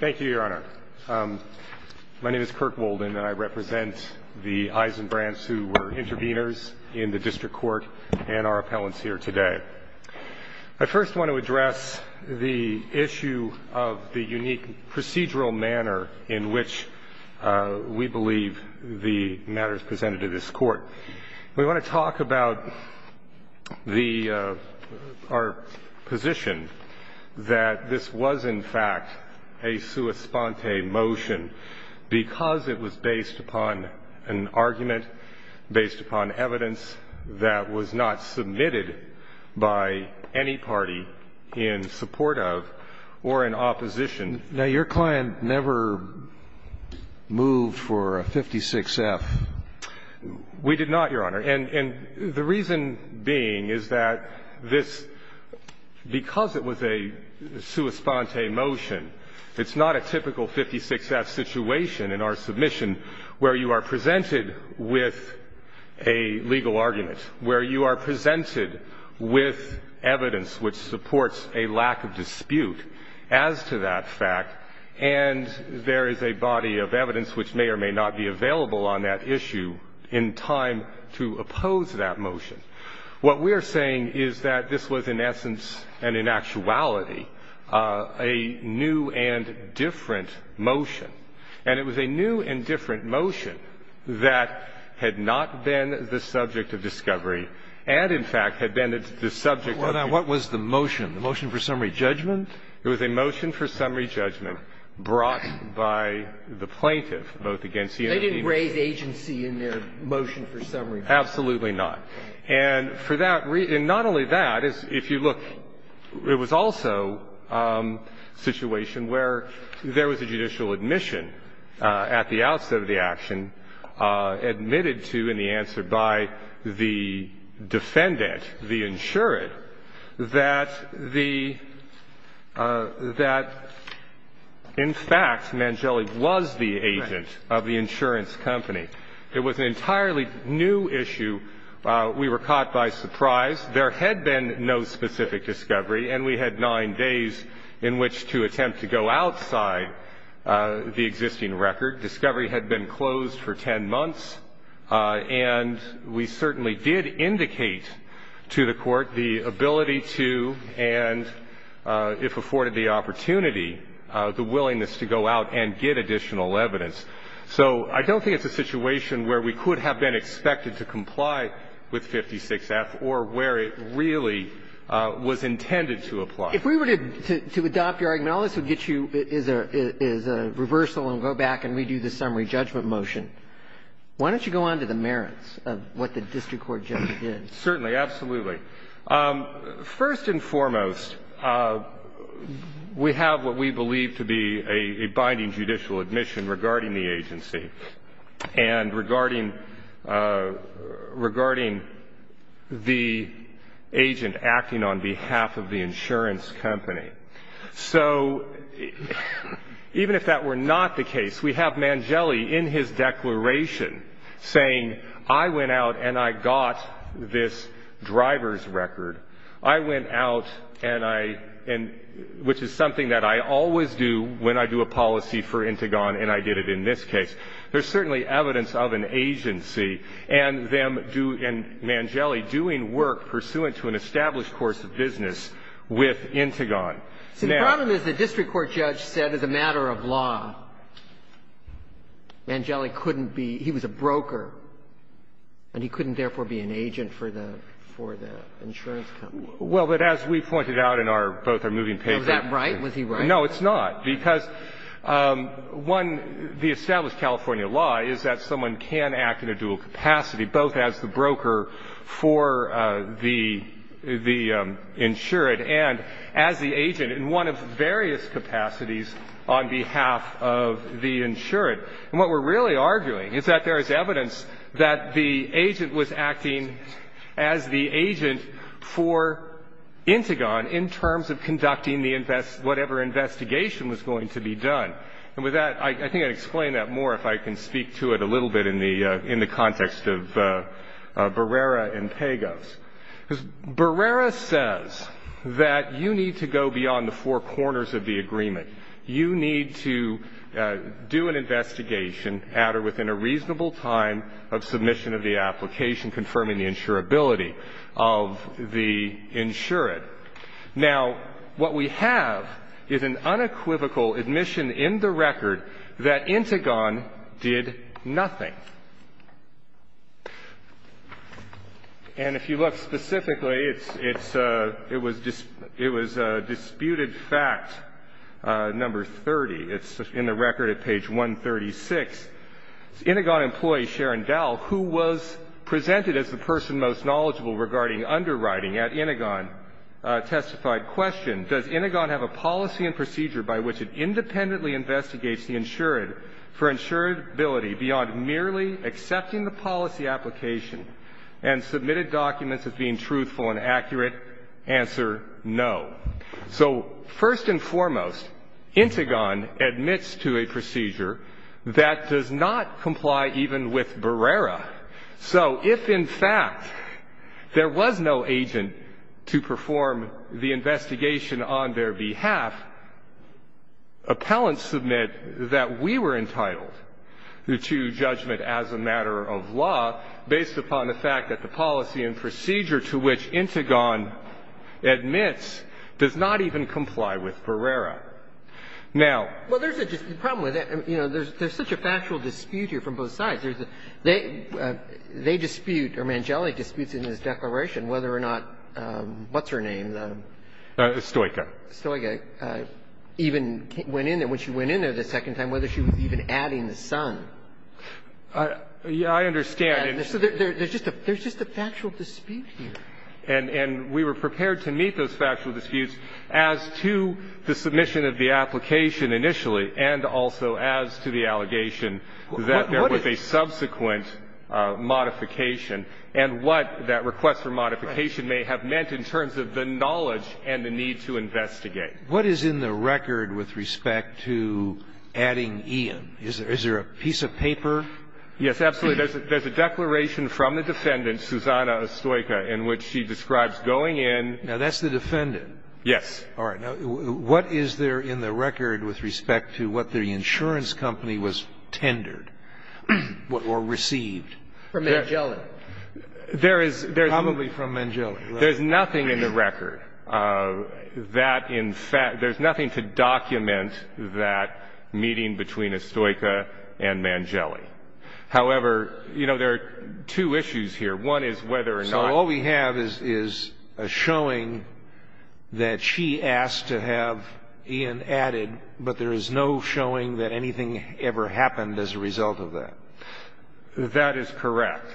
Thank you, Your Honor. My name is Kirk Wolden and I represent the Eisenbrandts who were interveners in the District Court and our appellants here today. I first want to address the issue of the unique procedural manner in which we believe the matter is presented to this Court. We want to talk about our position that this was, in fact, a sua sponte motion because it was based upon an argument, based upon evidence that was not submitted by any party in support of or in opposition. Now, your client never moved for a 56-F. We did not, Your Honor. And the reason being is that this, because it was a sua sponte motion, it's not a typical 56-F situation in our submission where you are presented with a legal argument, where you are presented with evidence which supports a lack of dispute as to that fact, and there is a body of evidence which may or may not be available on that issue in time to oppose that motion. What we are saying is that this was, in essence and in actuality, a new and different motion, and it was a new and different motion that had not been the subject of discovery and, in fact, had been the subject of the case. Scalia What was the motion, the motion for summary judgment? Wolden It was a motion for summary judgment brought by the plaintiff, both against the United Nations and the District Court. Breyer They didn't raise agency in their motion for summary judgment. Wolden Absolutely not. And for that reason, not only that, if you look, it was also a situation where there was a judicial admission at the outset of the action, admitted to in the answer by the defendant, the insured, that the — that, in fact, Mangeli was the agent of the insurance company. It was an entirely new issue. We were caught by surprise. There had been no specific discovery, and we had nine days in which to attempt to go outside the existing record. Discovery had been closed for 10 months, and we certainly did indicate to the Court the ability to and, if afforded the opportunity, the willingness to go out and get additional evidence. So I don't think it's a situation where we could have been expected to comply with 56F or where it really was intended to apply. Kagan If we were to adopt your argument, all this would get you is a reversal and go back and redo the summary judgment motion. Why don't you go on to the merits of what the District Court judgment is? Wolden Certainly. Absolutely. First and foremost, we have what we believe to be a binding judicial admission regarding the agency and regarding the agent acting on behalf of the insurance company. So even if that were not the case, we have Mangeli in his declaration saying, I went out and I got this driver's record. I went out and I — which is something that I always do when I do a policy for Intigon, and I did it in this case. There's certainly evidence of an agency and them do — and Mangeli doing work pursuant to an established course of business with Intigon. Kagan See, the problem is the District Court judge said as a matter of law, Mangeli couldn't be — he was a broker, and he couldn't therefore be an agent for the — for the insurance company. Wolden Well, but as we pointed out in our — both our moving papers — Kagan Was that right? Was he right? Wolden No, it's not, because, one, the established California law is that someone can act in a dual capacity, both as the broker for the — the insurant and as the agent in one of various capacities on behalf of the insurant. And what we're really arguing is that there is evidence that the agent was acting as the agent for Intigon in terms of conducting the — whatever investigation was going to be done. And with that, I think I'd explain that more if I can speak to it a little bit in the context of Barrera and Pagos. Because Barrera says that you need to go beyond the four corners of the agreement. You need to do an investigation at or within a reasonable time of submission of the application confirming the insurability of the insurant. Now, what we have is an unequivocal admission in the record that Intigon did nothing. And if you look specifically, it's — it was disputed fact number 30. It's in the record at page 136. Intigon employee Sharon Dowell, who was presented as the person most knowledgeable regarding underwriting at Intigon, testified, question, does Intigon have a policy and procedure by which it independently investigates the insurant for insurability beyond merely accepting the policy application and submitted documents as being truthful and accurate? Answer, no. So first and foremost, Intigon admits to a procedure that does not comply even with Barrera. So if, in fact, there was no agent to perform the investigation on their behalf, appellants submit that we were entitled to judgment as a matter of law based upon the fact that the policy and procedure to which Intigon admits does not even comply with Barrera. Now — But they dispute, or Mangeli disputes in his declaration whether or not — what's her name? Stojka. Stojka even went in there — when she went in there the second time, whether she was even adding the son. I understand. So there's just a factual dispute here. And we were prepared to meet those factual disputes as to the submission of the application initially and also as to the allegation that there was a subsequent modification and what that request for modification may have meant in terms of the knowledge and the need to investigate. What is in the record with respect to adding Ian? Is there a piece of paper? Yes, absolutely. There's a declaration from the defendant, Susanna Stojka, in which she describes going in — Now, that's the defendant. Yes. All right. Now, what is there in the record with respect to what the insurance company was tendered or received? From Mangeli. There is — Probably from Mangeli, right? There's nothing in the record that in fact — there's nothing to document that meeting between Stojka and Mangeli. One is whether or not — So all we have is a showing that she asked to have Ian added, but there is no showing that anything ever happened as a result of that. That is correct.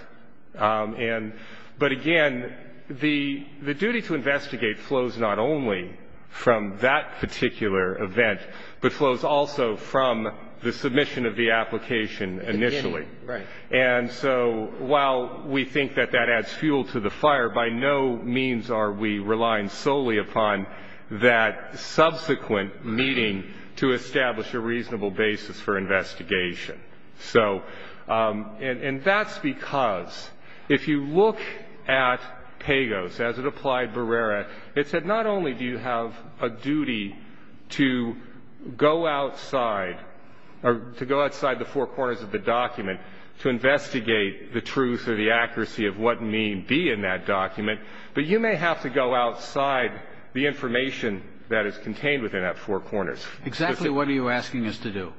And — but again, the duty to investigate flows not only from that particular event, but flows also from the submission of the application initially. Right. And so while we think that that adds fuel to the fire, by no means are we relying solely upon that subsequent meeting to establish a reasonable basis for investigation. So — and that's because if you look at Pagos, as it applied Barrera, it said not only do you have a duty to go outside — or to go outside the four corners of the document to investigate the truth or the accuracy of what may be in that document, but you may have to go outside the information that is contained within that four corners. Exactly what are you asking us to do?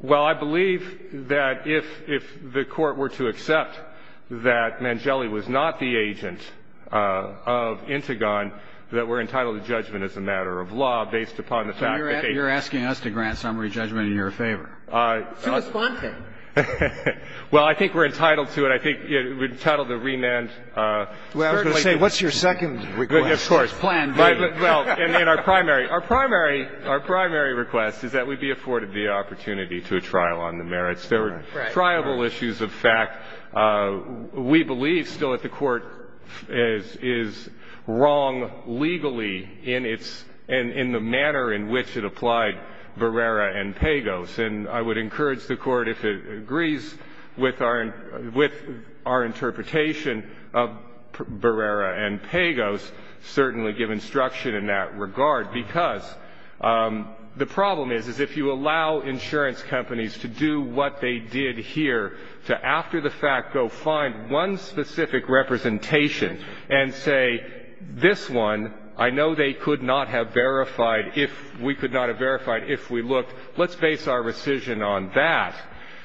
Well, I believe that if the Court were to accept that Mangeli was not the agent of Intigon that we're entitled to judgment as a matter of law based upon the fact that they — You're asking us to grant summary judgment in your favor. To respond to. Well, I think we're entitled to it. I think we're entitled to remand. Well, I was going to say, what's your second request? Of course. Plan B. Well, and then our primary — our primary — our primary request is that we be afforded the opportunity to a trial on the merits. There are triable issues of fact. We believe still that the Court is wrong legally in its — in the manner in which it applied Barrera and Pagos. And I would encourage the Court, if it agrees with our — with our interpretation of Barrera and Pagos, certainly give instruction in that regard. Because the problem is, is if you allow insurance companies to do what they did here to, after the fact, go find one specific representation and say, this one, I know they could not have verified if — we could not have verified if we looked. Let's base our decision on that.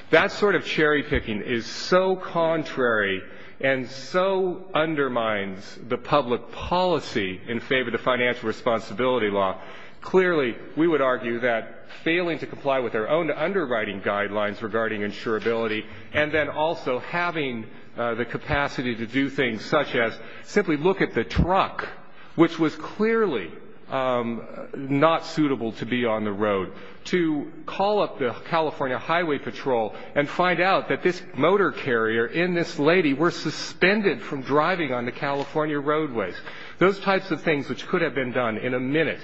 That sort of cherry-picking is so contrary and so undermines the public policy in favor of the financial responsibility law. Clearly, we would argue that failing to comply with our own underwriting guidelines regarding insurability, and then also having the capacity to do things such as simply look at the truck, which was clearly not suitable to be on the road, to call up the California Highway Patrol and find out that this motor carrier and this lady were suspended from driving on the California roadways. Those types of things which could have been done in a minute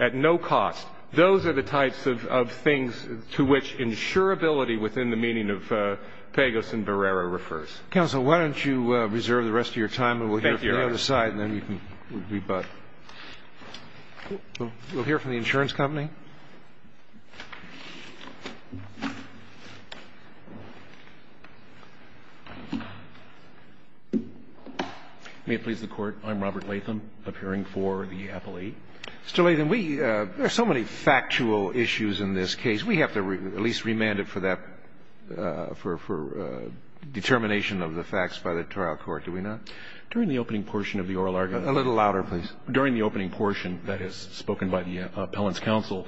at no cost, those are the types of things to which insurability within the meaning of Pagos and Barrera refers. Counsel, why don't you reserve the rest of your time, and we'll hear from the other side, and then you can rebut. We'll hear from the insurance company. May it please the Court. I'm Robert Latham, appearing for the appellee. Mr. Latham, we – there are so many factual issues in this case. We have to at least remand it for that – for determination of the facts by the trial court, do we not? During the opening portion of the oral argument. A little louder, please. During the opening portion that is spoken by the appellant's counsel,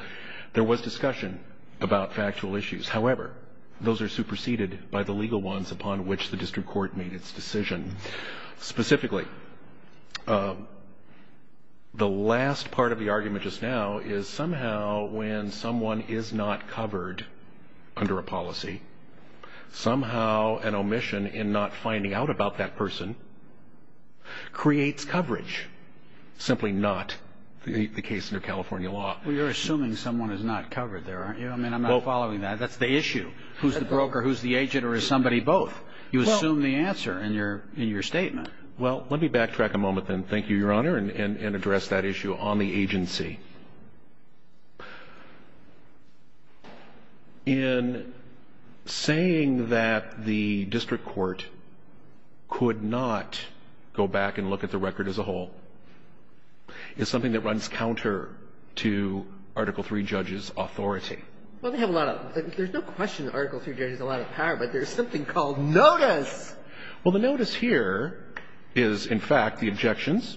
there was discussion about factual issues. However, those are superseded by the legal ones upon which the district court made its decision. Specifically, the last part of the argument just now is somehow when someone is not covered under a policy, somehow an omission in not finding out about that person creates coverage, simply not the case under California law. Well, you're assuming someone is not covered there, aren't you? I mean, I'm not following that. That's the issue. Who's the broker? Who's the agent? Or is somebody both? You assume the answer in your statement. Well, let me backtrack a moment then. Thank you, Your Honor, and address that issue on the agency. In saying that the district court could not go back and look at the record as a whole is something that runs counter to Article III judges' authority. Well, they have a lot of – there's no question that Article III judges have a lot of power, but there's something called notice. Well, the notice here is, in fact, the objections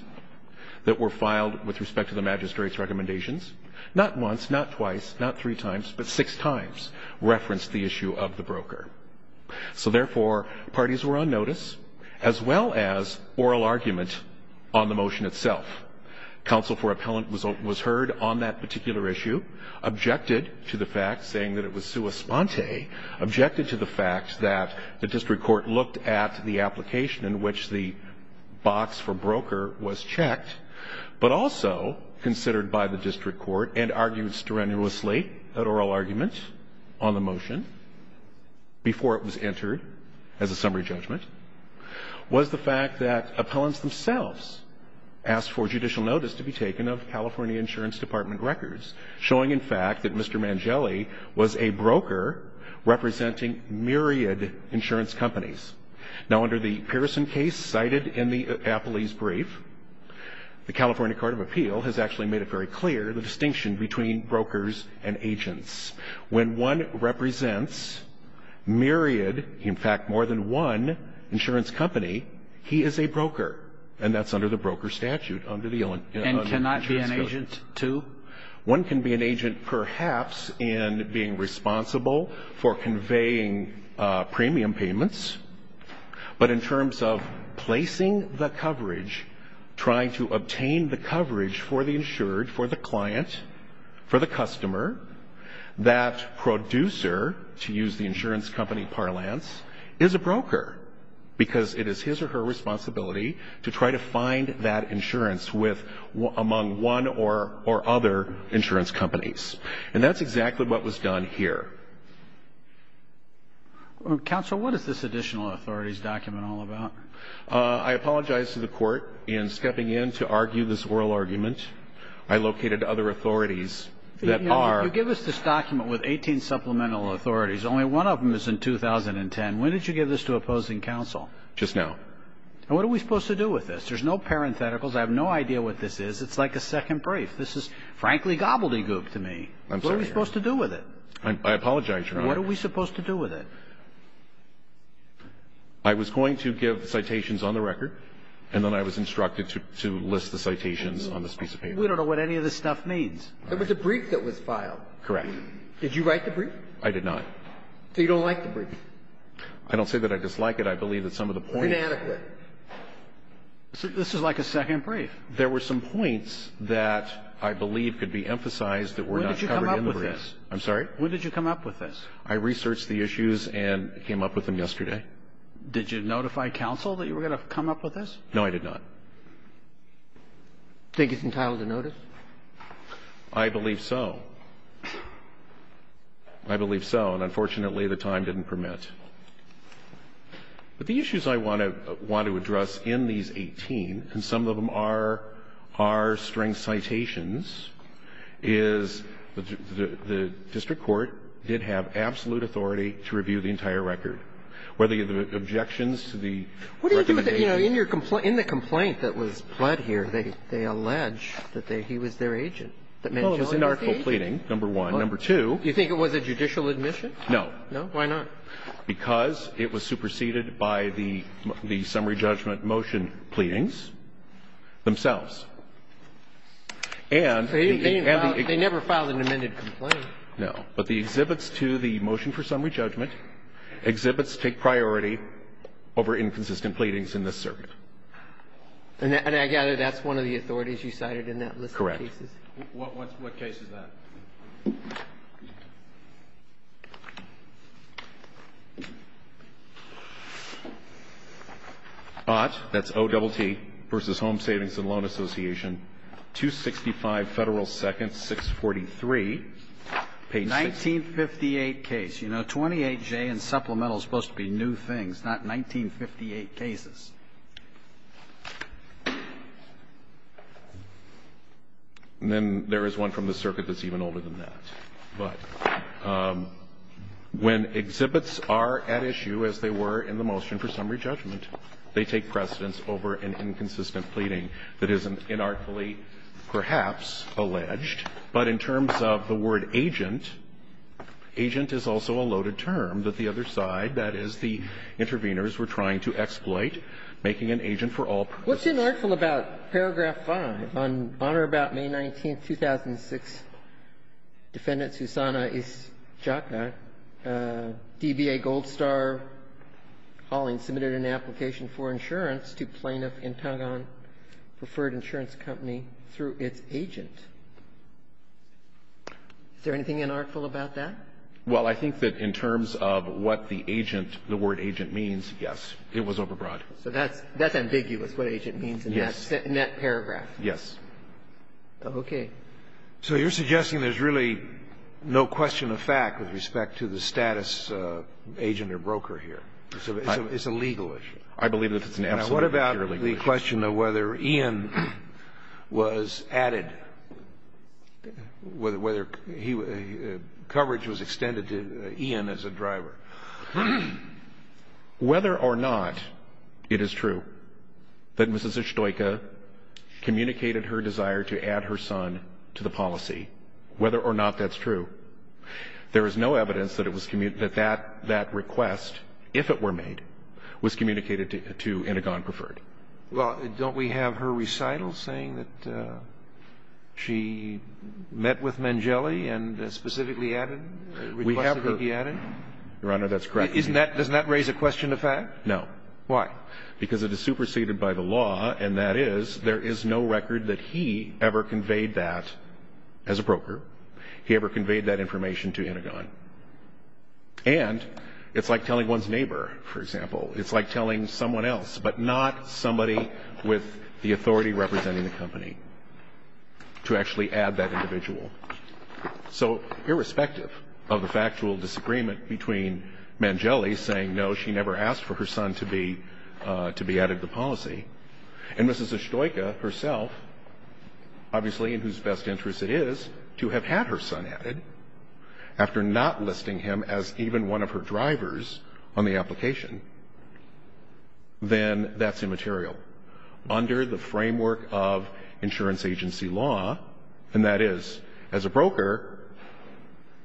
that were filed with respect to the magistrate's recommendations, not once, not twice, not three times, but six times referenced the issue of the broker. So, therefore, parties were on notice as well as oral argument on the motion itself. Counsel for appellant was heard on that particular issue, objected to the fact, saying that it was sua sponte, objected to the fact that the district court looked at the application in which the box for broker was checked, but also considered by the district court and argued strenuously at oral argument on the motion before it was entered as a summary judgment, was the fact that appellants themselves asked for judicial notice to be taken of California Insurance Department records, showing, in fact, that Mr. Mangelli was a broker representing myriad insurance companies. Now, under the Pearson case cited in the appellee's brief, the California Court of Appeal has actually made it very clear the distinction between brokers and agents. When one represents myriad, in fact, more than one insurance company, he is a broker, and that's under the broker statute, under the insurance code. One can be an agent, perhaps, in being responsible for conveying premium payments, but in terms of placing the coverage, trying to obtain the coverage for the insured, for the client, for the customer, that producer, to use the insurance company parlance, is a broker, because it is his or her responsibility to try to find that broker or other insurance companies. And that's exactly what was done here. Counsel, what is this additional authorities document all about? I apologize to the Court in stepping in to argue this oral argument. I located other authorities that are. You give us this document with 18 supplemental authorities. Only one of them is in 2010. When did you give this to opposing counsel? Just now. And what are we supposed to do with this? There's no parentheticals. I have no idea what this is. It's like a second brief. This is, frankly, gobbledygook to me. I'm sorry, Your Honor. What are we supposed to do with it? I apologize, Your Honor. What are we supposed to do with it? I was going to give citations on the record, and then I was instructed to list the citations on this piece of paper. We don't know what any of this stuff means. It was a brief that was filed. Correct. Did you write the brief? I did not. So you don't like the brief? I don't say that I dislike it. I believe that some of the points. Inadequate. This is like a second brief. There were some points that I believe could be emphasized that were not covered in the brief. When did you come up with this? I'm sorry? When did you come up with this? I researched the issues and came up with them yesterday. Did you notify counsel that you were going to come up with this? No, I did not. Do you think it's entitled to notice? I believe so. I believe so. And unfortunately, the time didn't permit. But the issues I want to address in these 18, and some of them are string citations, is the district court did have absolute authority to review the entire record. Were there objections to the recommendation? What do you do with the – you know, in the complaint that was pled here, they allege that he was their agent. Well, it was an article of pleading, number one. Number two. You think it was a judicial admission? No. No? Why not? Because it was superseded by the summary judgment motion pleadings themselves. They never filed an amended complaint. No. But the exhibits to the motion for summary judgment, exhibits take priority over inconsistent pleadings in this circuit. And I gather that's one of the authorities you cited in that list of cases? Correct. What case is that? Ott, that's O-double-T, versus Home Savings and Loan Association, 265 Federal 2nd, 643, page 6. 1958 case. You know, 28J in supplemental is supposed to be new things, not 1958 cases. And then there is one from the circuit that's even older than that. But when exhibits are at issue, as they were in the motion for summary judgment, they take precedence over an inconsistent pleading that is inarticulately perhaps alleged. But in terms of the word agent, agent is also a loaded term that the other side, that is, the intervenors were trying to exploit, making an agent for all purposes. What's inartful about paragraph 5? On honor about May 19th, 2006, Defendant Susanna Isjaka, DBA Gold Star Hauling submitted an application for insurance to plaintiff Intangon Preferred Insurance Company through its agent. Is there anything inartful about that? Well, I think that in terms of what the agent, the word agent means, yes, it was overbroad. So that's ambiguous, what agent means in that paragraph. Yes. Okay. So you're suggesting there's really no question of fact with respect to the status agent or broker here. It's a legal issue. I believe that it's an absolutely legal issue. What about the question of whether Ian was added, whether coverage was extended to Ian as a driver? Whether or not it is true that Mrs. Isjaka communicated her desire to add her son to the policy, whether or not that's true, there is no evidence that that request, if it were made, was communicated to Intangon Preferred. Well, don't we have her recital saying that she met with Mangeli and specifically added, requested to be added? Your Honor, that's correct. Doesn't that raise a question of fact? No. Why? Because it is superseded by the law, and that is there is no record that he ever conveyed that as a broker. He ever conveyed that information to Intangon. And it's like telling one's neighbor, for example. It's like telling someone else, but not somebody with the authority representing the company, to actually add that individual. So irrespective of the factual disagreement between Mangeli saying no, she never asked for her son to be added to the policy, and Mrs. Isjaka herself, obviously in whose best interest it is, to have had her son added after not listing him as even one of her drivers on the application, then that's immaterial. Under the framework of insurance agency law, and that is, as a broker,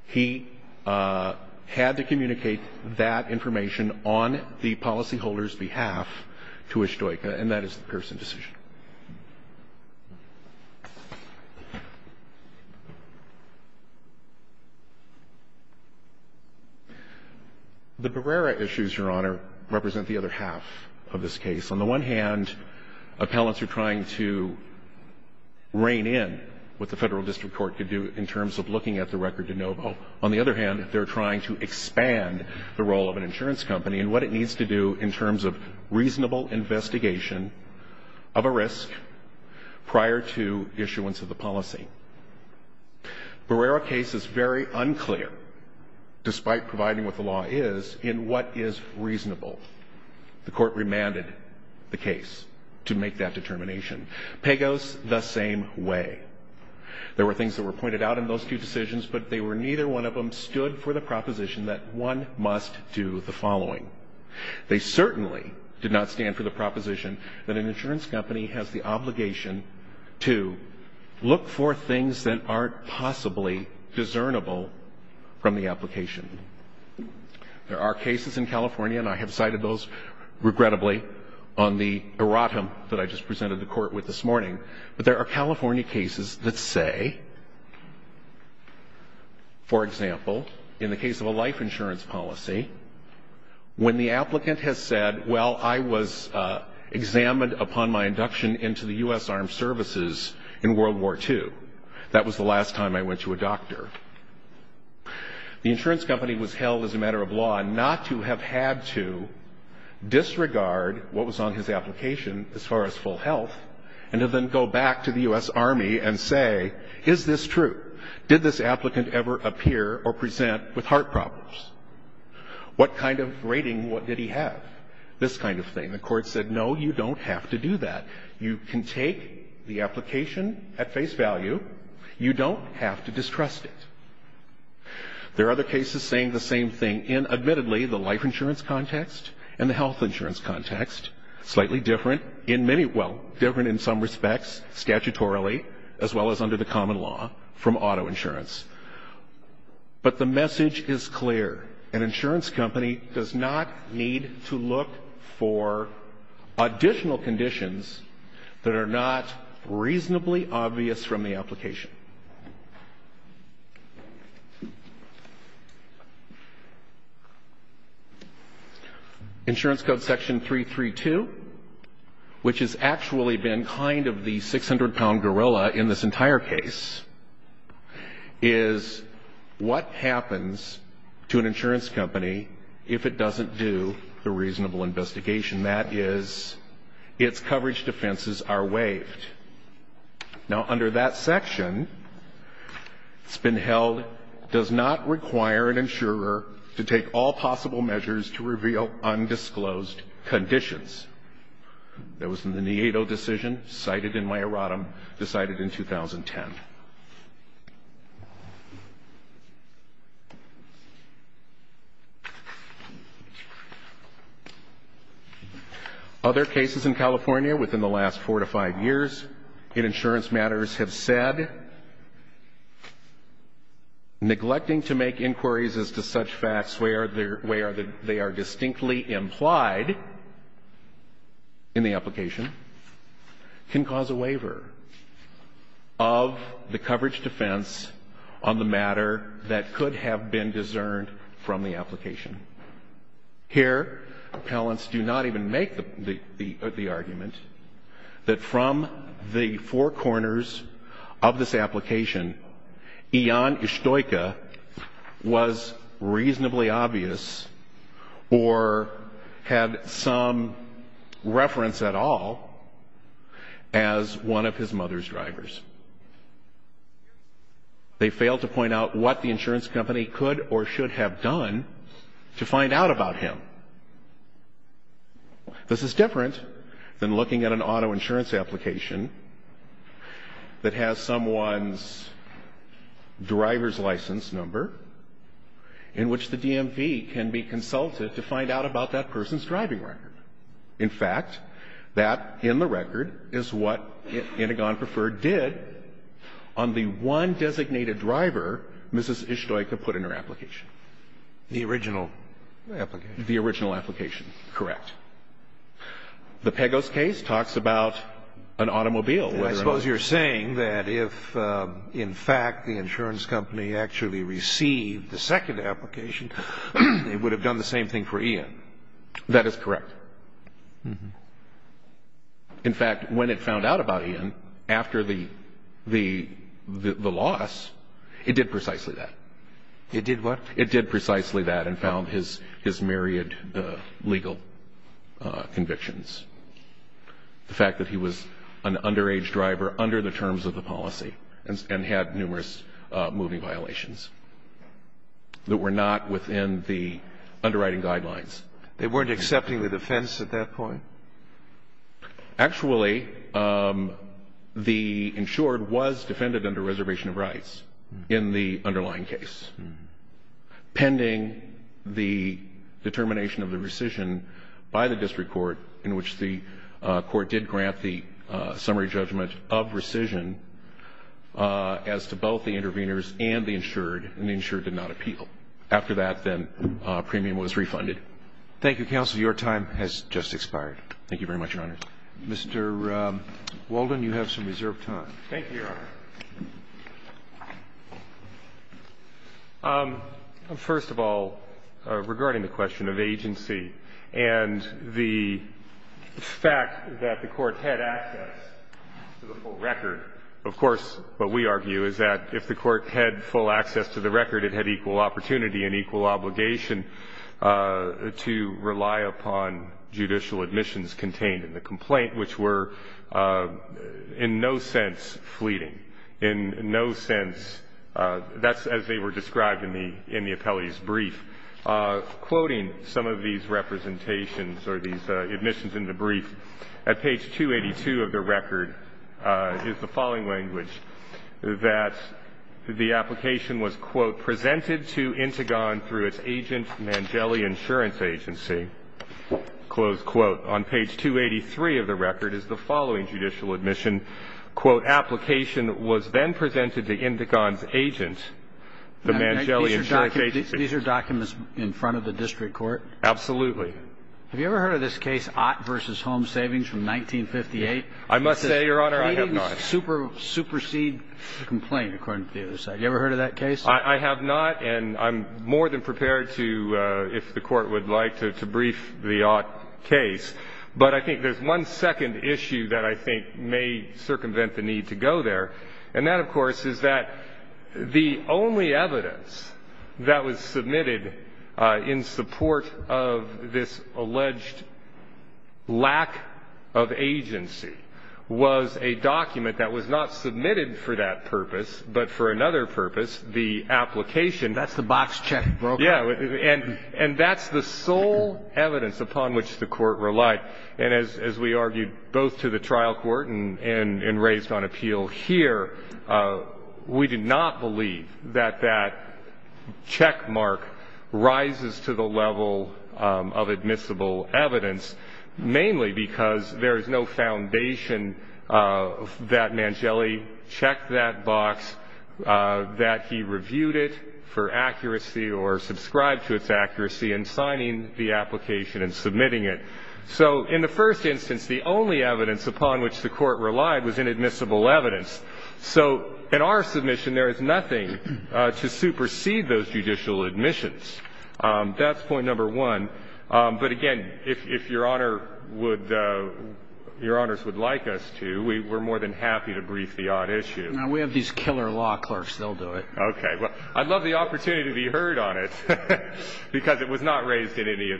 he had to communicate that information on the policyholder's behalf to Isjaka, and that is the Pearson decision. The Barrera issues, Your Honor, represent the other half of this case. On the one hand, appellants are trying to rein in what the Federal District Court could do in terms of looking at the record de novo. On the other hand, they're trying to expand the role of an insurance company and what it needs to do in terms of reasonable investigation of a risk prior to issuance of the policy. Barrera case is very unclear, despite providing what the law is, in what is reasonable. The Court remanded the case to make that determination. Pagos, the same way. There were things that were pointed out in those two decisions, but they were neither one of them stood for the proposition that one must do the following. They certainly did not stand for the proposition that an insurance company has the obligation to look for things that aren't possibly discernible from the application. There are cases in California, and I have cited those, regrettably, on the erratum that I just presented the Court with this morning, but there are California cases that say, for example, in the case of a life insurance policy, when the applicant has said, well, I was examined upon my induction into the U.S. Armed Services in World War II. That was the last time I went to a doctor. The insurance company was held as a matter of law not to have had to disregard what was on his application as far as full health and to then go back to the U.S. Army and say, is this true? Did this applicant ever appear or present with heart problems? What kind of rating, what did he have? This kind of thing. The Court said, no, you don't have to do that. You can take the application at face value. You don't have to distrust it. There are other cases saying the same thing in, admittedly, the life insurance context and the health insurance context, slightly different in many, well, different in some respects, statutorily, as well as under the common law, from auto insurance. But the message is clear. An insurance company does not need to look for additional conditions that are not reasonably obvious from the application. Insurance code section 332, which has actually been kind of the 600-pound gorilla in this entire case, is what happens to an insurance company if it doesn't do the reasonable investigation. That is, its coverage defenses are waived. Now, under that section, it's been held, does not require an insurer to take all possible measures to reveal undisclosed conditions. That was in the Neato decision, cited in my erratum, decided in 2010. Other cases in California, within the last four to five years, in insurance matters, have said neglecting to make inquiries as to such facts where they are distinctly implied in the application can cause a waiver of an insurance code. Here, appellants do not even make the argument that from the four corners of this application, Ian Ustoika was reasonably obvious or had some reference at all as one of his mother's drivers. They fail to point out what the insurance company could or should have done to find out about him. This is different than looking at an auto insurance application that has someone's driver's license number, in which the DMV can be consulted to find out about that person's driving record. In fact, that, in the record, is what Anagon Preferred did on the one designated driver Mrs. Ustoika put in her application. The original application. The original application, correct. The Pegos case talks about an automobile. I suppose you're saying that if, in fact, the insurance company actually received the second application, they would have done the same thing for Ian. That is correct. In fact, when it found out about Ian, after the loss, it did precisely that. It did what? It did precisely that and found his myriad legal convictions. The fact that he was an underage driver under the terms of the policy and had numerous moving violations that were not within the underwriting guidelines. They weren't accepting the defense at that point? Actually, the insured was defended under reservation of rights in the underlying case, pending the determination of the rescission by the district court, in which the court did grant the summary judgment of rescission as to both the interveners and the insured, and the insured did not appeal. After that, then, premium was refunded. Thank you, counsel. Your time has just expired. Thank you very much, Your Honor. Mr. Walden, you have some reserved time. Thank you, Your Honor. First of all, regarding the question of agency and the fact that the court had access to the full record, of course, what we argue is that if the court had full access to the record, it had equal opportunity and equal obligation to rely upon judicial admissions contained in the complaint, which were in no sense fleeting, in no sense, that's as they were described in the appellee's brief. And I think it's important to note that in addition to quoting some of these representations or these admissions in the brief, at page 282 of the record is the following language, that the application was, quote, presented to Intigon through its agent, Mangelli Insurance Agency, close quote. On page 283 of the record is the following judicial admission, quote, that the application was then presented to Intigon's agent, the Mangelli Insurance Agency. Now, these are documents in front of the district court? Absolutely. Have you ever heard of this case, Ott v. Home Savings from 1958? I must say, Your Honor, I have not. It's a pleading supersede complaint, according to the other side. You ever heard of that case? I have not, and I'm more than prepared to, if the court would like to, to brief the Ott case. But I think there's one second issue that I think may circumvent the need to go there, and that, of course, is that the only evidence that was submitted in support of this alleged lack of agency was a document that was not submitted for that purpose, but for another purpose, the application. That's the box check. Yeah, and that's the sole evidence upon which the court relied. And as we argued both to the trial court and raised on appeal here, we did not believe that that checkmark rises to the level of admissible evidence, mainly because there is no foundation that Mangelli checked that box, that he reviewed it for accuracy or subscribed to its accuracy in signing the application and submitting it. So in the first instance, the only evidence upon which the court relied was inadmissible evidence. So in our submission, there is nothing to supersede those judicial admissions. That's point number one. But again, if Your Honor would – Your Honors would like us to, we're more than happy to brief the Ott issue. Now, we have these killer law clerks. They'll do it. Okay. Well, I'd love the opportunity to be heard on it, because it was not raised in any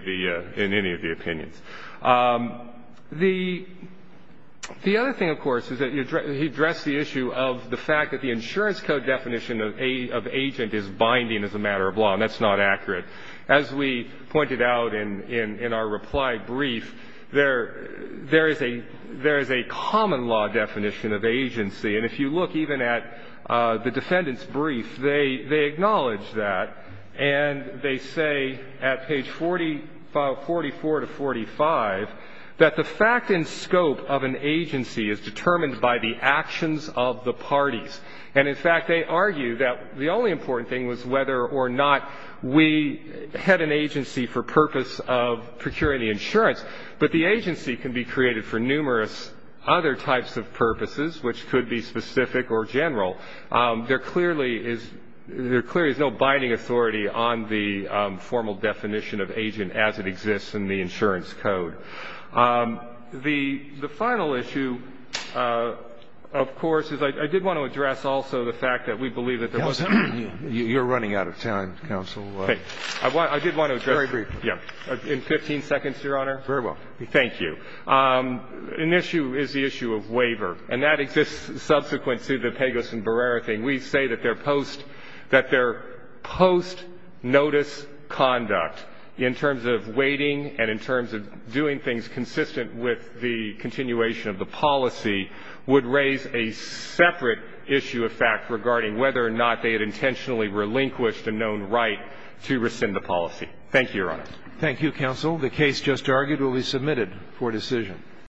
of the opinions. The other thing, of course, is that he addressed the issue of the fact that the insurance code definition of agent is binding as a matter of law, and that's not accurate. As we pointed out in our reply brief, there is a common law definition of agency. And if you look even at the defendant's brief, they acknowledge that. And they say at page 44 to 45 that the fact and scope of an agency is determined by the actions of the parties. And in fact, they argue that the only important thing was whether or not we had an agency for purpose of procuring the insurance, but the agency can be created for numerous other types of purposes, which could be specific or general. There clearly is no binding authority on the formal definition of agent as it exists in the insurance code. The final issue, of course, is I did want to address also the fact that we believe that there was a ---- You're running out of time, counsel. Okay. I did want to address ---- Very briefly. In 15 seconds, Your Honor. Very well. Thank you. An issue is the issue of waiver, and that exists subsequent to the Pegas and Barrera thing. We say that they're post notice conduct in terms of waiting and in terms of doing things consistent with the continuation of the policy would raise a separate issue of fact regarding whether or not they had intentionally relinquished a known right to rescind the policy. Thank you, Your Honor. Thank you, counsel. The case just argued will be submitted for decision.